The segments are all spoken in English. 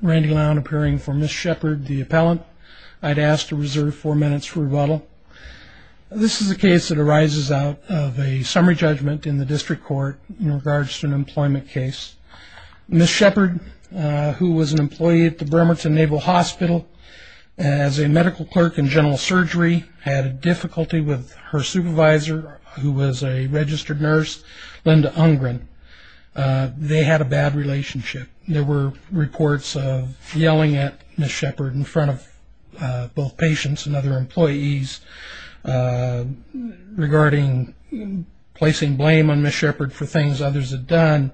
Randy Lowne appearing for Ms. Shepard, the appellant. I'd ask to reserve four minutes for rebuttal. This is a case that arises out of a summary judgment in the district court in regards to an employment case. Ms. Shepard, who was an employee at the Bremerton Naval Hospital as a medical clerk in general surgery, had a difficulty with her supervisor, who was a registered nurse, Linda Ungren. They had a bad relationship. There were reports of yelling at Ms. Shepard in front of both patients and other employees regarding placing blame on Ms. Shepard for things others had done,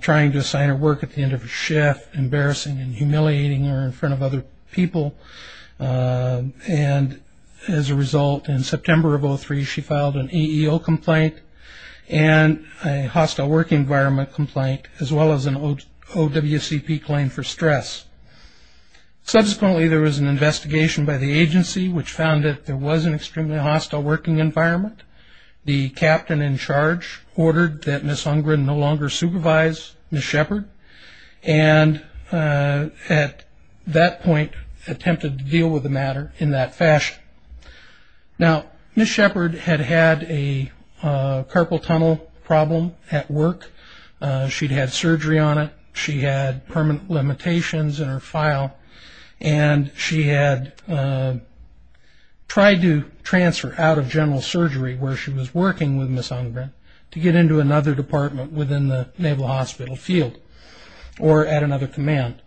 trying to assign her work at the end of a shift, embarrassing and humiliating her in front of other people. As a result, in September of 2003, she filed an EEO complaint and a hostile work environment complaint, as well as an OWCP claim for stress. Subsequently, there was an investigation by the agency, which found that there was an extremely hostile working environment. The captain in charge ordered that Ms. Ungren no longer supervise Ms. Shepard and at that point attempted to deal with the matter in that fashion. Now, Ms. Shepard had had a carpal tunnel problem at work. She'd had surgery on it. She had permanent limitations in her file, and she had tried to transfer out of general surgery where she was working with Ms. Ungren to get into another department within the Naval Hospital field or at another command.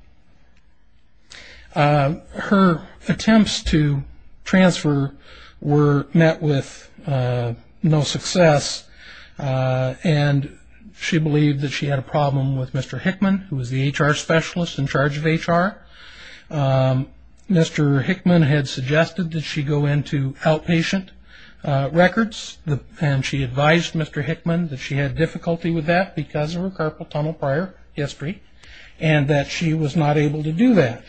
Her attempts to transfer were met with no success, and she believed that she had a problem with Mr. Hickman, who was the HR specialist in charge of HR. Mr. Hickman had suggested that she go into outpatient records, and she advised Mr. Hickman that she had difficulty with that because of her carpal tunnel prior history and that she was not able to do that.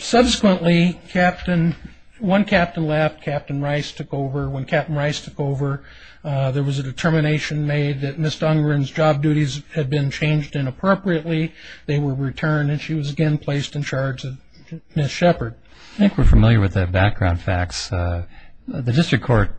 Subsequently, one captain left. Captain Rice took over. When Captain Rice took over, there was a determination made that Ms. Ungren's job duties had been changed inappropriately. They were returned, and she was again placed in charge of Ms. Shepard. I think we're familiar with the background facts. The district court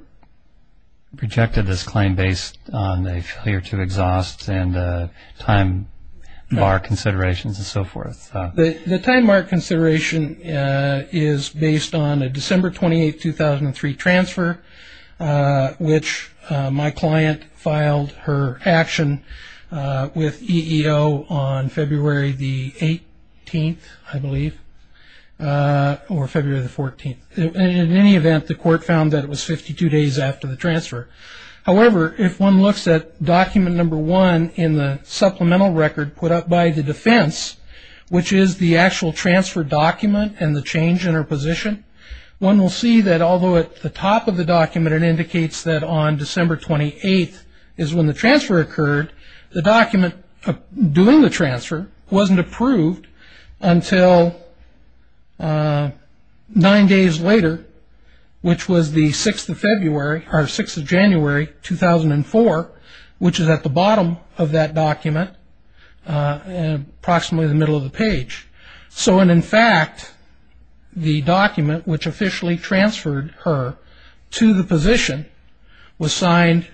projected this claim based on a failure to exhaust and time-bar considerations and so forth. The time-bar consideration is based on a December 28, 2003 transfer, which my client filed her action with EEO on February the 18th, I believe, or February the 14th. In any event, the court found that it was 52 days after the transfer. However, if one looks at document number one in the supplemental record put up by the defense, which is the actual transfer document and the change in her position, one will see that although at the top of the document it indicates that on December 28th is when the transfer occurred, the document doing the transfer wasn't approved until nine days later, which was the 6th of January, 2004, which is at the bottom of that document, approximately the middle of the page. In fact, the document which officially transferred her to the position was signed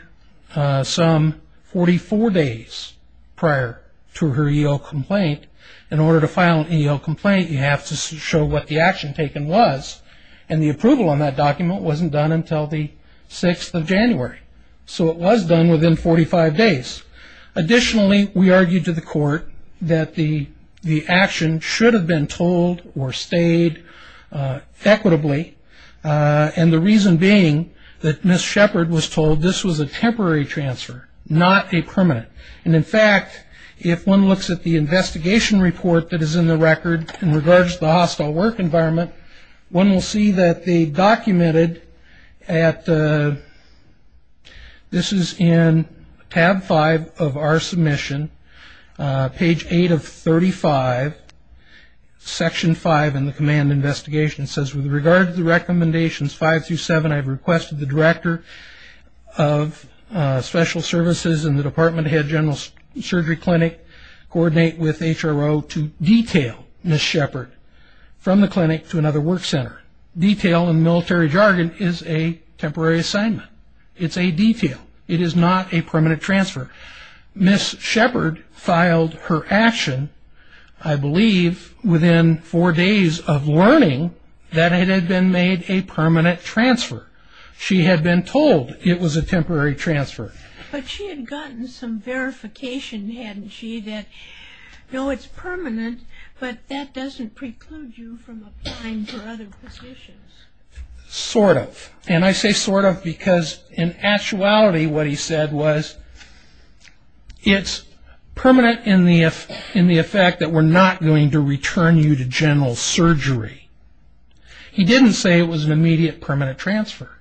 some 44 days prior to her EEO complaint. In order to file an EEO complaint, you have to show what the action taken was, and the approval on that document wasn't done until the 6th of January, so it was done within 45 days. Additionally, we argued to the court that the action should have been told or stayed equitably, and the reason being that Ms. Shepard was told this was a temporary transfer, not a permanent. In fact, if one looks at the investigation report that is in the record in regards to the hostile work environment, one will see that they documented at, this is in tab 5 of our submission, page 8 of 35, section 5 in the command investigation. It says, with regard to the recommendations 5 through 7, I have requested the director of special services and the department head general surgery clinic coordinate with HRO to detail Ms. Detail, in military jargon, is a temporary assignment. It's a detail. It is not a permanent transfer. Ms. Shepard filed her action, I believe, within four days of learning that it had been made a permanent transfer. She had been told it was a temporary transfer. But she had gotten some verification, hadn't she, that, no, it's permanent, but that doesn't preclude you from applying for other positions. Sort of, and I say sort of because in actuality what he said was, it's permanent in the effect that we're not going to return you to general surgery. He didn't say it was an immediate permanent transfer.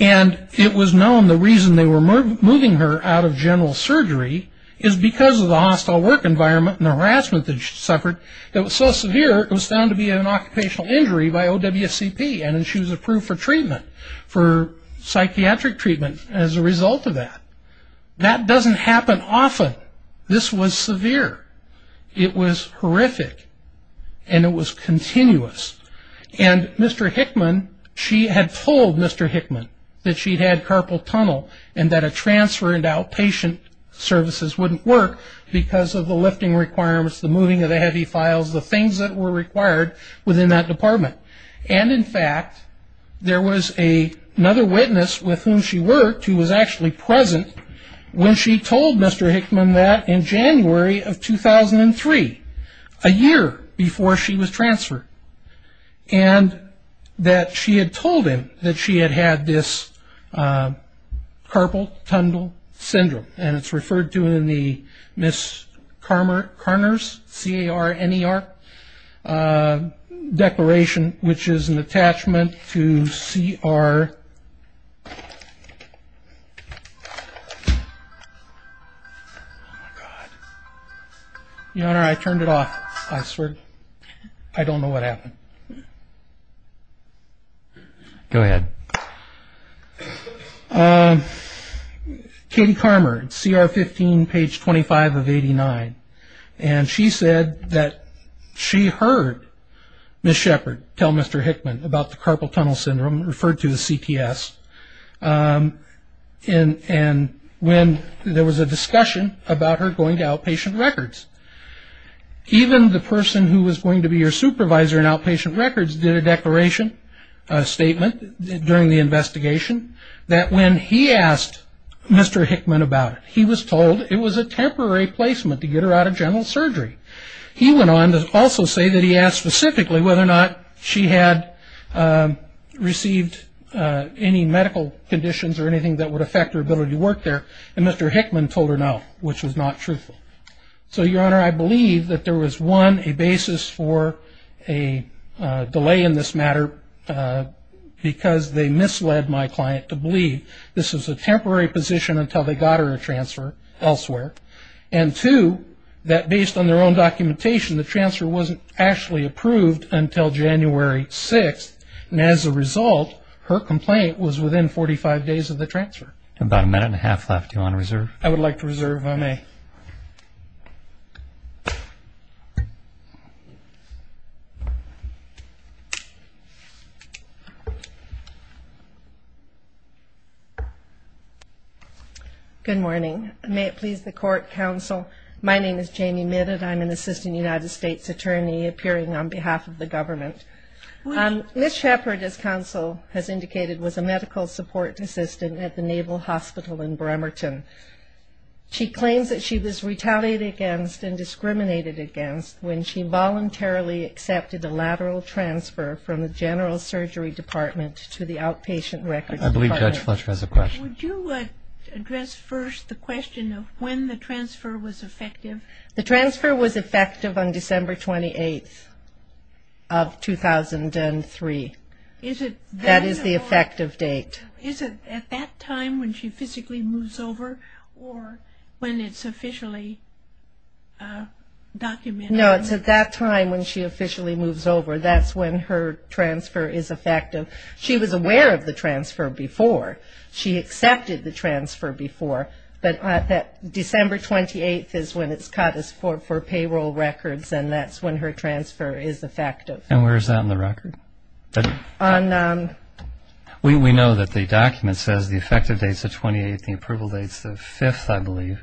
And it was known the reason they were moving her out of general surgery is because of the hostile work environment and the harassment that she suffered that was so severe it was found to be an occupational injury by OWCP. And she was approved for treatment, for psychiatric treatment as a result of that. That doesn't happen often. This was severe. It was horrific. And it was continuous. And Mr. Hickman, she had told Mr. Hickman that she had had carpal tunnel and that a transfer into outpatient services wouldn't work because of the lifting requirements, the moving of the heavy files, the things that were required within that department. And, in fact, there was another witness with whom she worked who was actually present when she told Mr. Hickman that in January of 2003, a year before she was transferred, and that she had told him that she had had this carpal tunnel syndrome. And it's referred to in the Ms. Carner's, C-A-R-N-E-R, declaration, which is an attachment to C-R. I swear. Your Honor, I turned it off. I swear. I don't know what happened. Go ahead. Katie Carmer, C-R-15, page 25 of 89. And she said that she heard Ms. Shepard tell Mr. Hickman about the carpal tunnel syndrome, referred to as CTS, and when there was a discussion about her going to outpatient records. Even the person who was going to be your supervisor in outpatient records did a declaration, a statement during the investigation, that when he asked Mr. Hickman about it, he was told it was a temporary placement to get her out of general surgery. He went on to also say that he asked specifically whether or not she had received any medical conditions or anything that would affect her ability to work there. And Mr. Hickman told her no, which was not truthful. So, Your Honor, I believe that there was, one, a basis for a delay in this matter because they misled my client to believe this was a temporary position until they got her a transfer elsewhere. And, two, that based on their own documentation, the transfer wasn't actually approved until January 6th. And as a result, her complaint was within 45 days of the transfer. About a minute and a half left. Do you want to reserve? I would like to reserve, if I may. Good morning. May it please the Court, Counsel. My name is Janie Midditt. I'm an assistant United States attorney appearing on behalf of the government. Ms. Shepard, as Counsel has indicated, was a medical support assistant at the Naval Hospital in Bremerton. She claims that she was retaliated against and discriminated against when she voluntarily accepted a lateral transfer from the general surgery department to the outpatient records department. I believe Judge Fletcher has a question. Would you address first the question of when the transfer was effective? The transfer was effective on December 28th of 2003. That is the effective date. Is it at that time when she physically moves over or when it's officially documented? No, it's at that time when she officially moves over. That's when her transfer is effective. She was aware of the transfer before. She accepted the transfer before. December 28th is when it's cut for payroll records, and that's when her transfer is effective. And where is that in the record? We know that the document says the effective date is the 28th. The approval date is the 5th, I believe.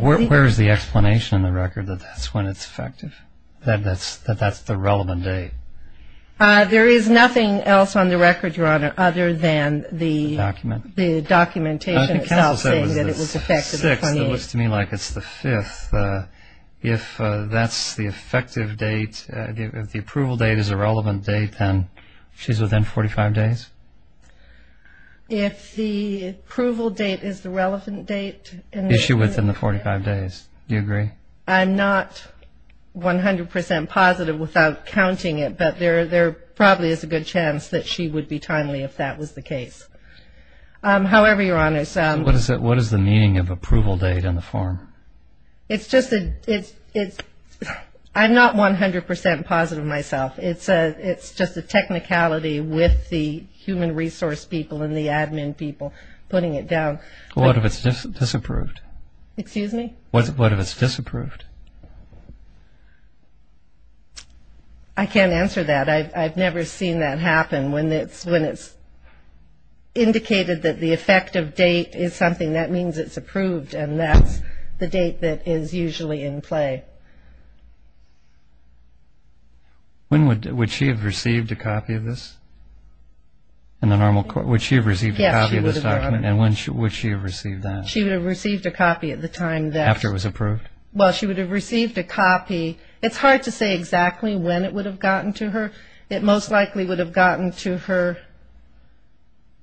Where is the explanation in the record that that's when it's effective, that that's the relevant date? There is nothing else on the record, Your Honor, other than the documentation itself. I think counsel said it was the 6th. It looks to me like it's the 5th. If that's the effective date, if the approval date is a relevant date, then she's within 45 days? If the approval date is the relevant date. Is she within the 45 days? Do you agree? I'm not 100 percent positive without counting it, but there probably is a good chance that she would be timely if that was the case. However, Your Honor, What is the meaning of approval date on the form? I'm not 100 percent positive myself. It's just a technicality with the human resource people and the admin people putting it down. What if it's disapproved? Excuse me? What if it's disapproved? I can't answer that. I've never seen that happen. When it's indicated that the effective date is something, that means it's approved, and that's the date that is usually in play. Would she have received a copy of this in the normal court? Would she have received a copy of this document? Yes, she would have, Your Honor. And would she have received that? She would have received a copy at the time that After it was approved? Well, she would have received a copy. It's hard to say exactly when it would have gotten to her. It most likely would have gotten to her,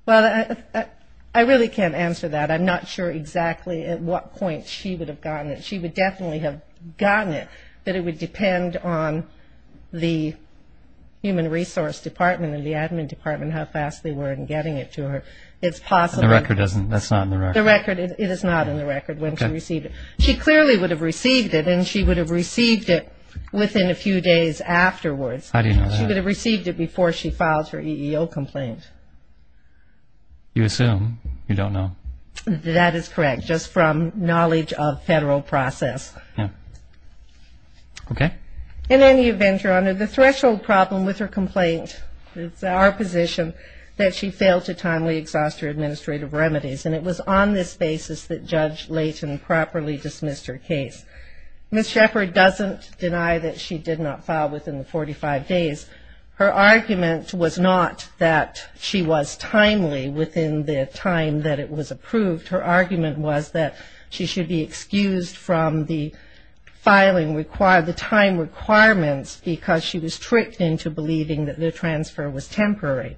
well, I really can't answer that. I'm not sure exactly at what point she would have gotten it. She would definitely have gotten it, but it would depend on the human resource department and the admin department how fast they were in getting it to her. It's possible. The record doesn't, that's not in the record. The record, it is not in the record when she received it. She clearly would have received it, and she would have received it within a few days afterwards. How do you know that? She would have received it before she filed her EEO complaint. You assume. You don't know. That is correct, just from knowledge of federal process. Okay. And then, Your Honor, the threshold problem with her complaint, it's our position that she failed to timely exhaust her administrative remedies, and it was on this basis that Judge Layton properly dismissed her case. Ms. Shepard doesn't deny that she did not file within the 45 days. Her argument was not that she was timely within the time that it was approved. Her argument was that she should be excused from the time requirements because she was tricked into believing that the transfer was temporary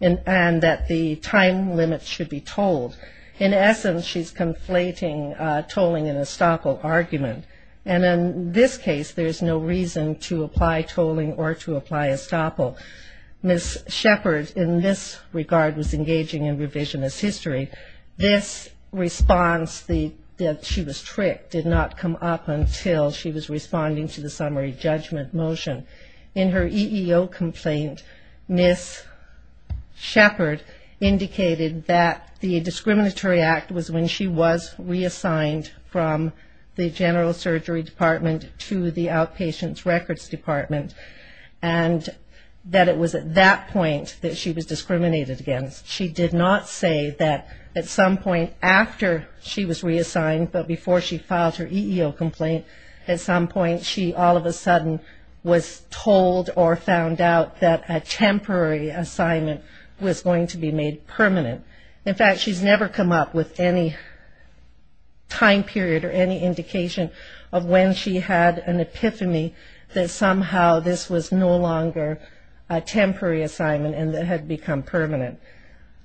and that the time limit should be tolled. In essence, she's conflating tolling and estoppel argument, and in this case there's no reason to apply tolling or to apply estoppel. Ms. Shepard, in this regard, was engaging in revisionist history. This response that she was tricked did not come up until she was responding to the summary judgment motion. In her EEO complaint, Ms. Shepard indicated that the discriminatory act was when she was reassigned from the general surgery department to the outpatient records department and that it was at that point that she was discriminated against. She did not say that at some point after she was reassigned, but before she filed her EEO complaint, at some point she all of a sudden was told or found out that a temporary assignment was going to be made permanent. In fact, she's never come up with any time period or any indication of when she had an epiphany that somehow this was no longer a temporary assignment and it had become permanent.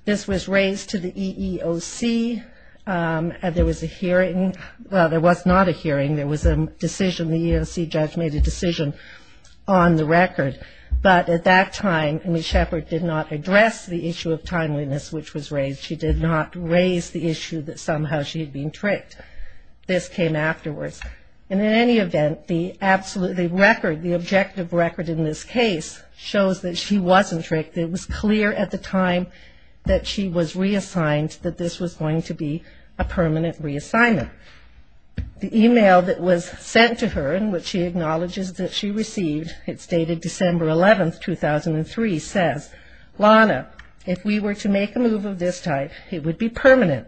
This was raised to the EEOC, and there was a hearing. Well, there was not a hearing. There was a decision. The EEOC judge made a decision on the record. But at that time, Ms. Shepard did not address the issue of timeliness which was raised. She did not raise the issue that somehow she had been tricked. This came afterwards. And in any event, the record, the objective record in this case shows that she wasn't tricked. It was clear at the time that she was reassigned that this was going to be a permanent reassignment. The e-mail that was sent to her in which she acknowledges that she received, it's dated December 11, 2003, says, Lana, if we were to make a move of this type, it would be permanent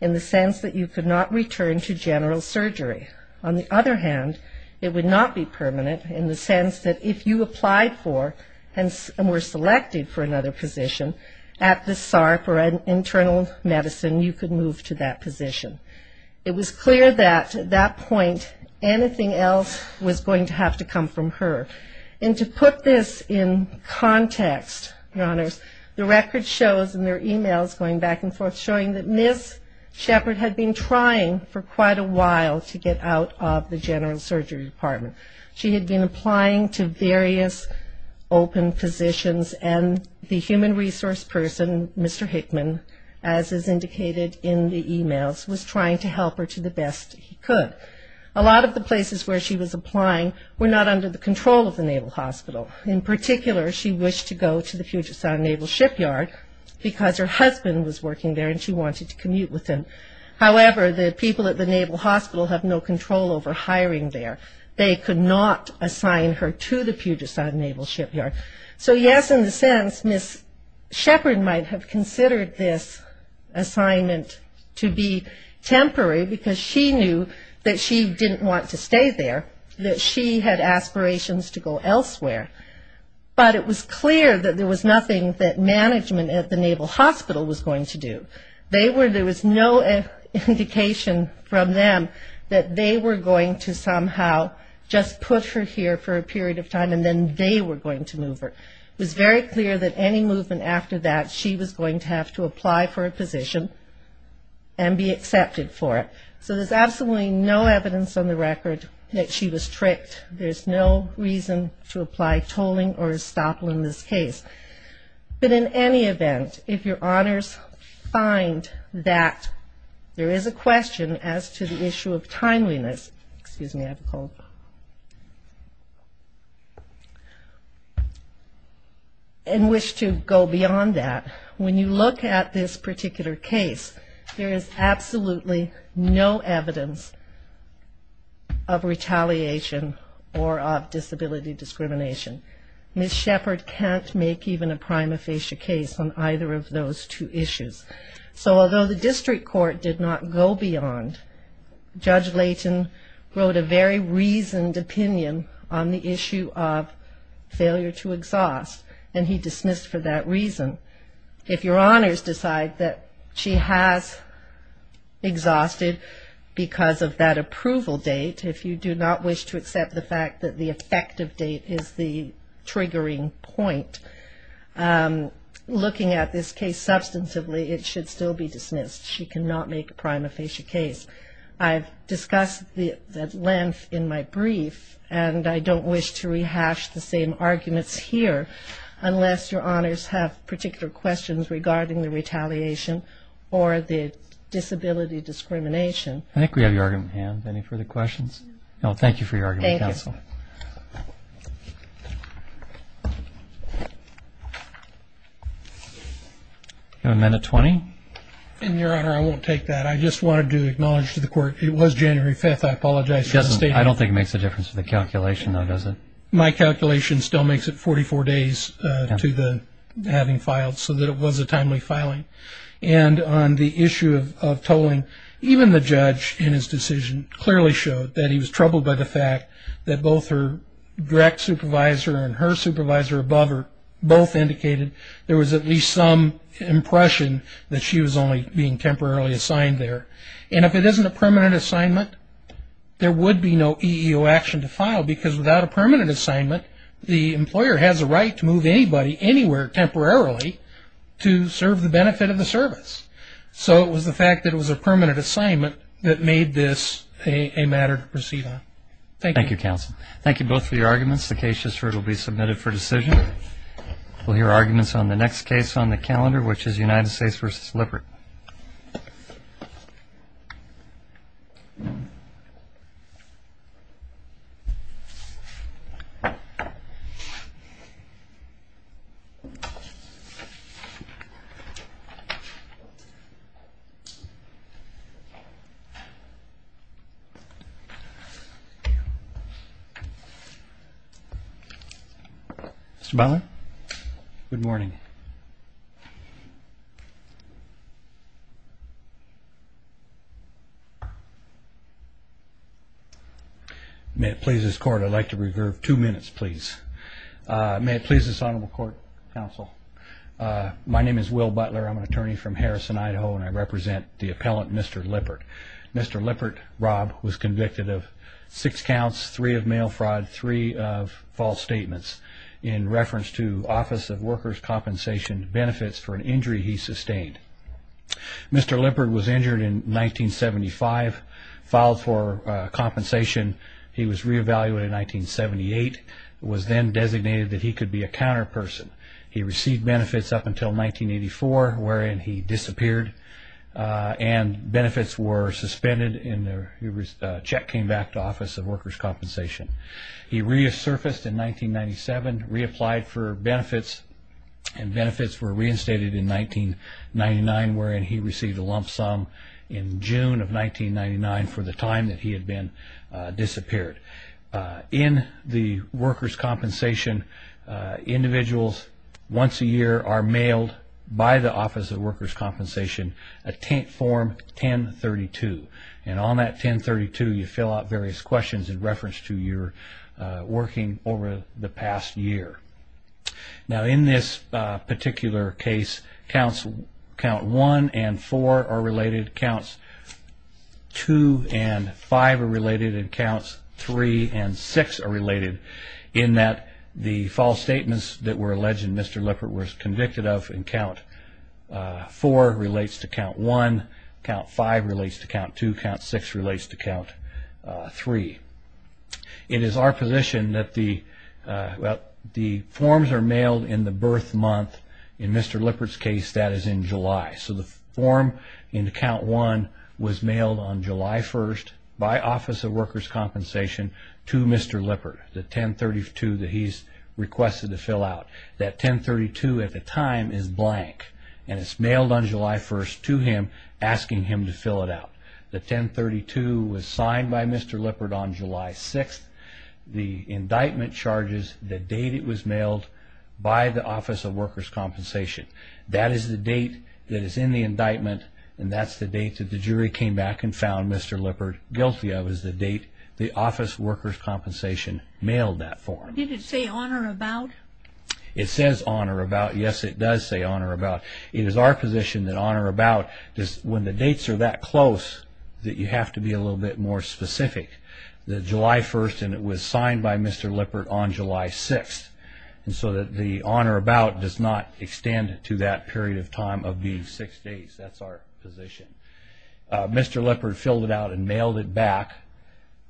in the sense that you could not return to general surgery. On the other hand, it would not be permanent in the sense that if you applied for and were selected for another position at the SARP or an internal medicine, you could move to that position. It was clear that at that point anything else was going to have to come from her. And to put this in context, Your Honors, the record shows in their e-mails going back and forth showing that Ms. Shepard had been trying for quite a while to get out of the general surgery department. She had been applying to various open positions, and the human resource person, Mr. Hickman, as is indicated in the e-mails, was trying to help her to the best he could. A lot of the places where she was applying were not under the control of the Naval Hospital. In particular, she wished to go to the Puget Sound Naval Shipyard because her husband was working there and she wanted to commute with him. However, the people at the Naval Hospital have no control over hiring there. They could not assign her to the Puget Sound Naval Shipyard. So yes, in a sense, Ms. Shepard might have considered this assignment to be temporary because she knew that she didn't want to stay there, that she had aspirations to go elsewhere. But it was clear that there was nothing that management at the Naval Hospital was going to do. There was no indication from them that they were going to somehow just put her here for a period of time and then they were going to move her. It was very clear that any movement after that, she was going to have to apply for a position and be accepted for it. So there's absolutely no evidence on the record that she was tricked. There's no reason to apply tolling or estoppel in this case. But in any event, if your honors find that there is a question as to the issue of timeliness, excuse me, I have a cold, and wish to go beyond that, when you look at this particular case, there is absolutely no evidence of retaliation or of disability discrimination. Ms. Shepard can't make even a prima facie case on either of those two issues. So although the district court did not go beyond, Judge Layton wrote a very reasoned opinion on the issue of failure to exhaust, and he dismissed for that reason. If your honors decide that she has exhausted because of that approval date, if you do not wish to accept the fact that the effective date is the triggering point, looking at this case substantively, it should still be dismissed. She cannot make a prima facie case. I've discussed the length in my brief, and I don't wish to rehash the same arguments here unless your honors have particular questions regarding the retaliation or the disability discrimination. I think we have your argument in hand. Any further questions? No. Thank you for your argument, counsel. Thank you. Amendment 20. Your honor, I won't take that. I just wanted to acknowledge to the court it was January 5th. I apologize for the statement. I don't think it makes a difference to the calculation, though, does it? My calculation still makes it 44 days to having filed so that it was a timely filing. And on the issue of tolling, even the judge in his decision clearly showed that he was troubled by the fact that both her direct supervisor and her supervisor above her both indicated there was at least some impression that she was only being temporarily assigned there. And if it isn't a permanent assignment, there would be no EEO action to file because without a permanent assignment, the employer has a right to move anybody anywhere temporarily to serve the benefit of the service. So it was the fact that it was a permanent assignment that made this a matter to proceed on. Thank you. Thank you, counsel. Thank you both for your arguments. The case just heard will be submitted for decision. We'll hear arguments on the next case on the calendar, which is United States v. Lippert. Mr. Butler? Good morning. May it please this Court, I'd like to reserve two minutes, please. May it please this Honorable Court, Counsel. My name is Will Butler. I'm an attorney from Harrison, Idaho, and I represent the appellant, Mr. Lippert. Mr. Lippert, Rob, was convicted of six counts, three of mail fraud, three of false statements. In reference to Office of Workers' Compensation benefits for an injury he sustained. Mr. Lippert was injured in 1975, filed for compensation. He was re-evaluated in 1978. It was then designated that he could be a counterperson. He received benefits up until 1984, wherein he disappeared, and benefits were suspended. A check came back to Office of Workers' Compensation. He resurfaced in 1997, reapplied for benefits, and benefits were reinstated in 1999, wherein he received a lump sum in June of 1999 for the time that he had been disappeared. In the Workers' Compensation, individuals once a year are mailed by the Office of Workers' Compensation a Form 1032. And on that 1032, you fill out various questions in reference to your working over the past year. Now, in this particular case, Counts 1 and 4 are related. Counts 2 and 5 are related. And Counts 3 and 6 are related, in that the false statements that were alleged in Mr. Lippert were convicted of in Count 4 relates to Count 1. Count 5 relates to Count 2. Count 6 relates to Count 3. It is our position that the forms are mailed in the birth month. In Mr. Lippert's case, that is in July. So the form in Count 1 was mailed on July 1st by Office of Workers' Compensation to Mr. Lippert, the 1032 that he's requested to fill out. That 1032 at the time is blank. And it's mailed on July 1st to him, asking him to fill it out. The 1032 was signed by Mr. Lippert on July 6th. The indictment charges the date it was mailed by the Office of Workers' Compensation. That is the date that is in the indictment, and that's the date that the jury came back and found Mr. Lippert guilty of, is the date the Office of Workers' Compensation mailed that form. Did it say on or about? It says on or about. Yes, it does say on or about. It is our position that on or about, when the dates are that close, that you have to be a little bit more specific. The July 1st, and it was signed by Mr. Lippert on July 6th. And so the on or about does not extend to that period of time of the six days. That's our position. Mr. Lippert filled it out and mailed it back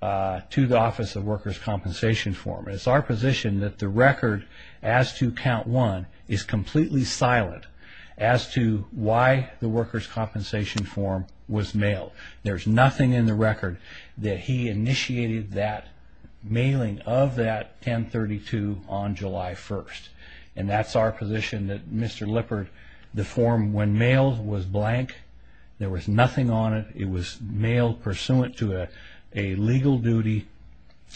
to the Office of Workers' Compensation form. It's our position that the record as to count one is completely silent as to why the Workers' Compensation form was mailed. There's nothing in the record that he initiated that mailing of that 1032 on July 1st. And that's our position that Mr. Lippert, the form, when mailed, was blank. There was nothing on it. It was mailed pursuant to a legal duty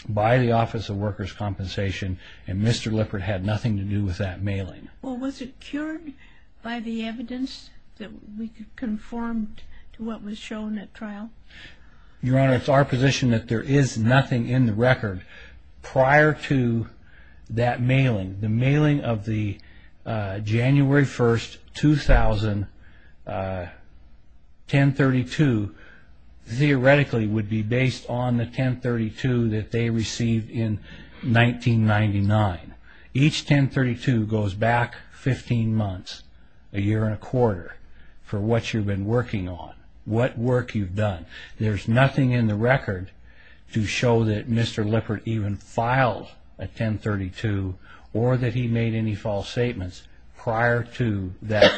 by the Office of Workers' Compensation, and Mr. Lippert had nothing to do with that mailing. Well, was it cured by the evidence that we conformed to what was shown at trial? Your Honor, it's our position that there is nothing in the record prior to that mailing. The mailing of the January 1st, 2000, 1032, theoretically would be based on the 1032 that they received in 1999. Each 1032 goes back 15 months, a year and a quarter, for what you've been working on, what work you've done. There's nothing in the record to show that Mr. Lippert even filed a 1032 or that he made any false statements prior to that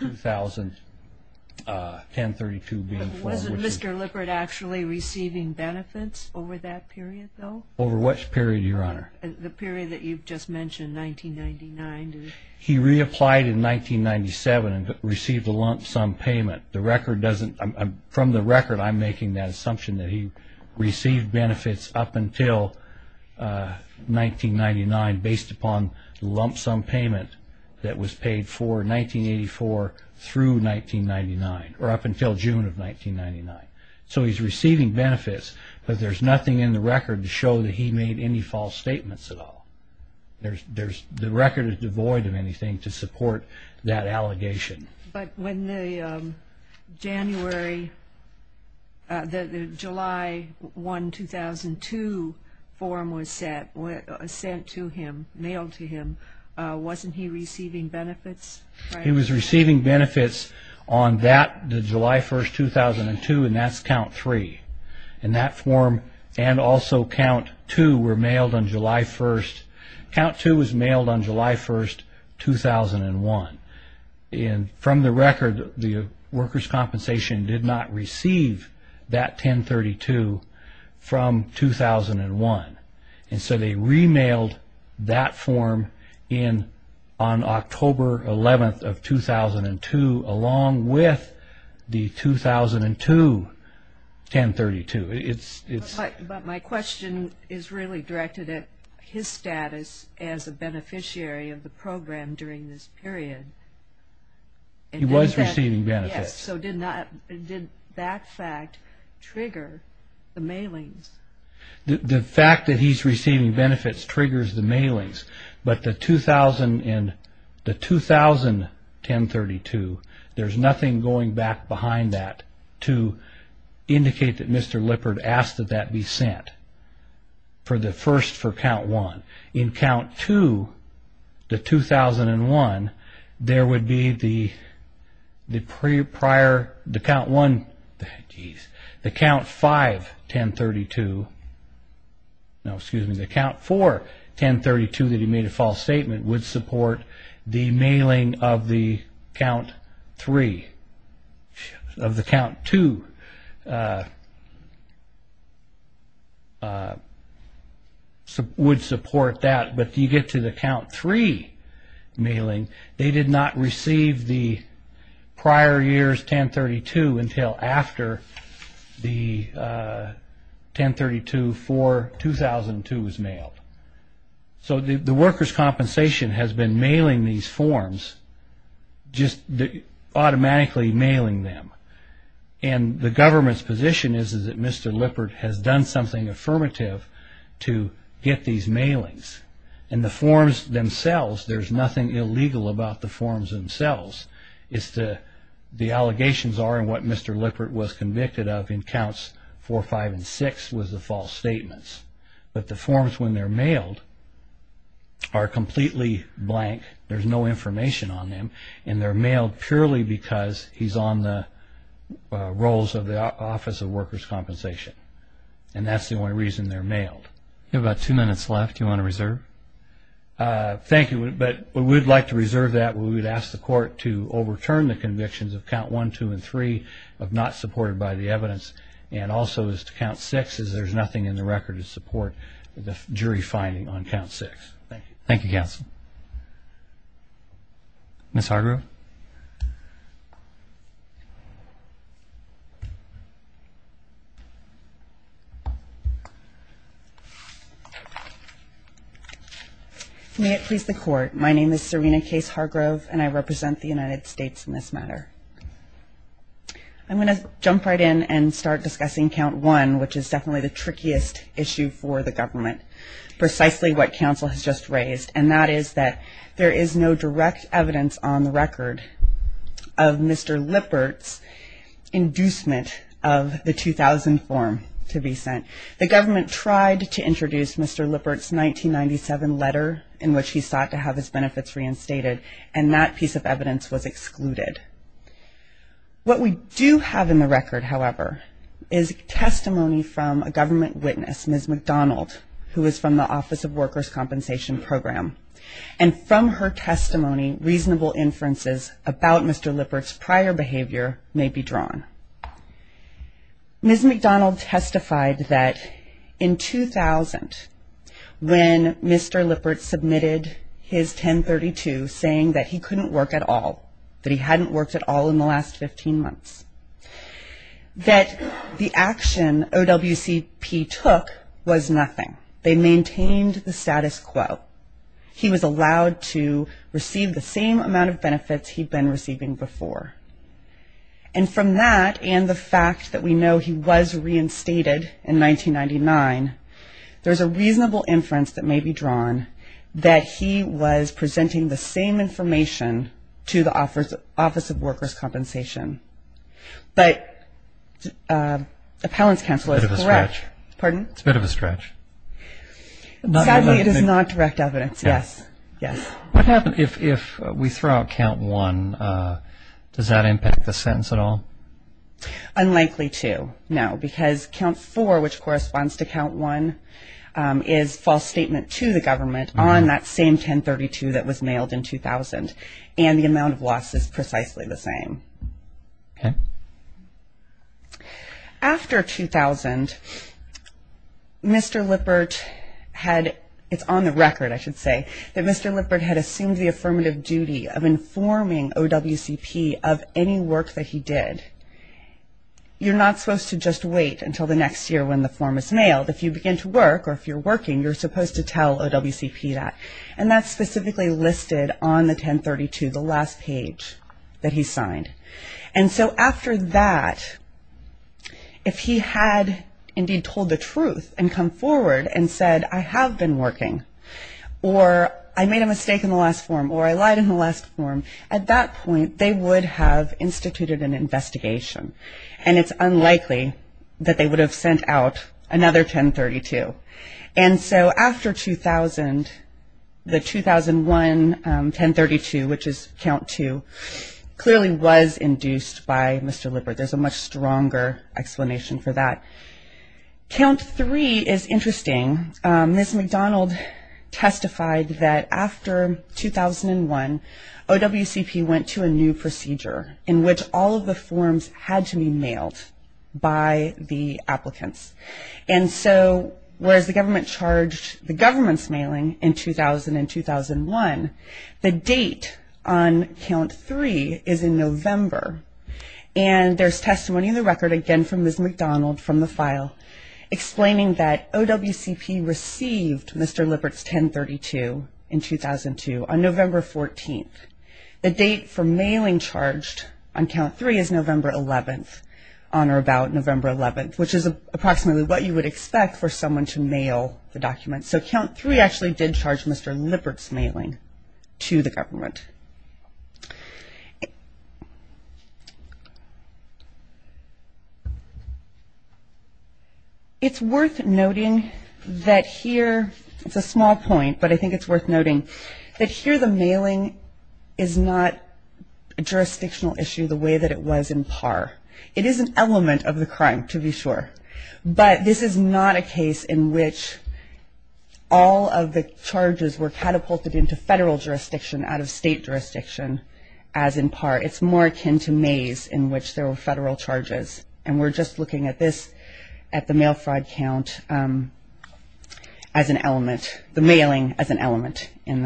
201032 being filed. Was Mr. Lippert actually receiving benefits over that period, though? Over which period, Your Honor? The period that you've just mentioned, 1999. He reapplied in 1997 and received a lump sum payment. From the record, I'm making that assumption that he received benefits up until 1999 based upon the lump sum payment that was paid for 1984 through 1999, or up until June of 1999. So he's receiving benefits, but there's nothing in the record to show that he made any false statements at all. The record is devoid of anything to support that allegation. But when the July 1, 2002 form was sent to him, mailed to him, wasn't he receiving benefits? He was receiving benefits on July 1, 2002, and that's count three. And that form and also count two were mailed on July 1. 2001. And from the record, the workers' compensation did not receive that 1032 from 2001. And so they re-mailed that form on October 11 of 2002 along with the 2002 1032. But my question is really directed at his status as a beneficiary of the program during this period. He was receiving benefits. Yes, so did that fact trigger the mailings? The fact that he's receiving benefits triggers the mailings. But the 2000 1032, there's nothing going back behind that to indicate that Mr. Lippard asked that that be sent for the first, for count one. In count two, the 2001, there would be the prior, the count one, the count five 1032, no, excuse me, the count four 1032 that he made a false statement would support the mailing of the count three, of the count two would support that. But you get to the count three mailing, they did not receive the prior year's 1032 until after the 1032 for 2002 was mailed. So the workers' compensation has been mailing these forms just automatically mailing them. And the government's position is that Mr. Lippard has done something affirmative to get these mailings. And the forms themselves, there's nothing illegal about the forms themselves. It's the allegations are and what Mr. Lippard was convicted of in counts four, five, and six was the false statements. But the forms when they're mailed are completely blank. There's no information on them. And they're mailed purely because he's on the roles of the Office of Workers' Compensation. And that's the only reason they're mailed. You have about two minutes left. Do you want to reserve? Thank you. But we would like to reserve that. We would ask the court to overturn the convictions of count one, two, and three of not supported by the evidence. And also as to count six, as there's nothing in the record to support the jury finding on count six. Thank you. Thank you, counsel. Ms. Hargrove. May it please the court, my name is Serena Case Hargrove, and I represent the United States in this matter. I'm going to jump right in and start discussing count one, which is definitely the trickiest issue for the government, precisely what counsel has just raised, and that is that there is no direct evidence on the record of Mr. Lippert's inducement of the 2000 form to be sent. The government tried to introduce Mr. Lippert's 1997 letter in which he sought to have his benefits reinstated, and that piece of evidence was excluded. What we do have in the record, however, is testimony from a government witness, Ms. McDonald, who is from the Office of Workers' Compensation Program. And from her testimony, reasonable inferences about Mr. Lippert's prior behavior may be drawn. Ms. McDonald testified that in 2000, when Mr. Lippert submitted his 1032 saying that he couldn't work at all, that he hadn't worked at all in the last 15 months, that the action OWCP took was nothing. They maintained the status quo. He was allowed to receive the same amount of benefits he'd been receiving before. And from that and the fact that we know he was reinstated in 1999, there's a reasonable inference that may be drawn that he was presenting the same information to the Office of Workers' Compensation. But the appellant's counsel is correct. It's a bit of a stretch. Pardon? It's a bit of a stretch. Sadly, it is not direct evidence, yes. What happens if we throw out count one? Does that impact the sentence at all? Unlikely to, no, because count four, which corresponds to count one, is false statement to the government on that same 1032 that was mailed in 2000. And the amount of loss is precisely the same. Okay. After 2000, Mr. Lippert had, it's on the record, I should say, that Mr. Lippert had assumed the affirmative duty of informing OWCP of any work that he did. You're not supposed to just wait until the next year when the form is mailed. If you begin to work or if you're working, you're supposed to tell OWCP that. And that's specifically listed on the 1032, the last page that he signed. And so after that, if he had indeed told the truth and come forward and said, I have been working, or I made a mistake in the last form, or I lied in the last form, at that point they would have instituted an investigation. And it's unlikely that they would have sent out another 1032. And so after 2000, the 2001 1032, which is count two, clearly was induced by Mr. Lippert. There's a much stronger explanation for that. Count three is interesting. Ms. McDonald testified that after 2001, OWCP went to a new procedure in which all of the forms had to be mailed by the applicants. And so whereas the government charged the government's mailing in 2000 and 2001, the date on count three is in November. And there's testimony in the record, again from Ms. McDonald from the file, explaining that OWCP received Mr. Lippert's 1032 in 2002 on November 14th. The date for mailing charged on count three is November 11th, on or about November 11th, which is approximately what you would expect for someone to mail the document. So count three actually did charge Mr. Lippert's mailing to the government. It's worth noting that here, it's a small point, but I think it's worth noting, that here the mailing is not a jurisdictional issue the way that it was in PAR. It is an element of the crime, to be sure. But this is not a case in which all of the charges were catapulted into federal jurisdiction, out of state jurisdiction, as in PAR. It's more akin to maize, in which there were federal charges. And we're just looking at this, at the mail fraud count, as an element, the mailing as an element in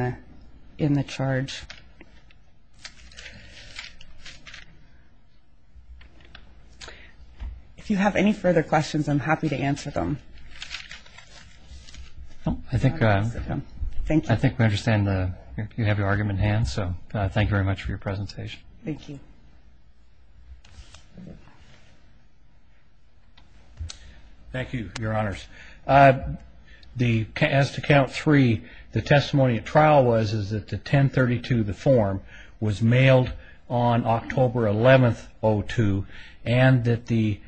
the charge. If you have any further questions, I'm happy to answer them. Thank you. I think we understand you have your argument in hand. So thank you very much for your presentation. Thank you. Thank you, Your Honors. As to count three, the testimony at trial was that the 1032, the form, was mailed on October 11th, 2002, and that the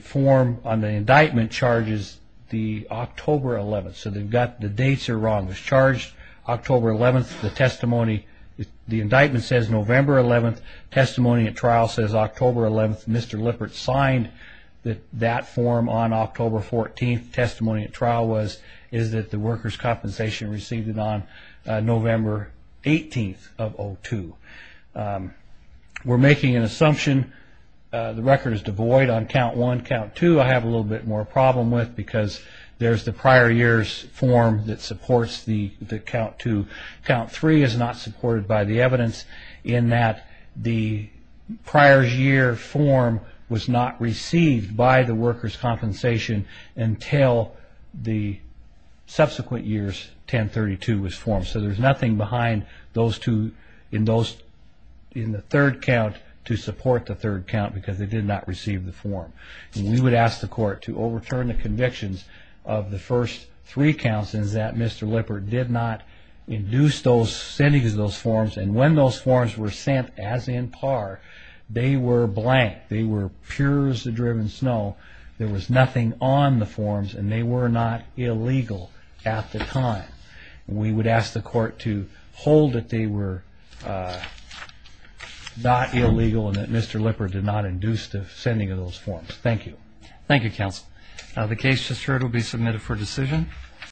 form on the indictment charges the October 11th. So the dates are wrong. It's charged October 11th. The testimony, the indictment says November 11th. Testimony at trial says October 11th. Mr. Lippert signed that form on October 14th. The testimony at trial is that the workers' compensation received it on November 18th of 2002. We're making an assumption. The record is devoid on count one, count two. I have a little bit more problem with, because there's the prior year's form that supports the count two. Count three is not supported by the evidence in that the prior year form was not received by the workers' compensation until the subsequent year's 1032 was formed. So there's nothing behind those two in the third count to support the third count because they did not receive the form. We would ask the court to overturn the convictions of the first three counts in that Mr. Lippert did not induce sending of those forms, and when those forms were sent as in par, they were blank. They were pure as the driven snow. There was nothing on the forms, and they were not illegal at the time. We would ask the court to hold that they were not illegal and that Mr. Lippert did not induce the sending of those forms. Thank you. Thank you, counsel. The case just heard will be submitted for decision.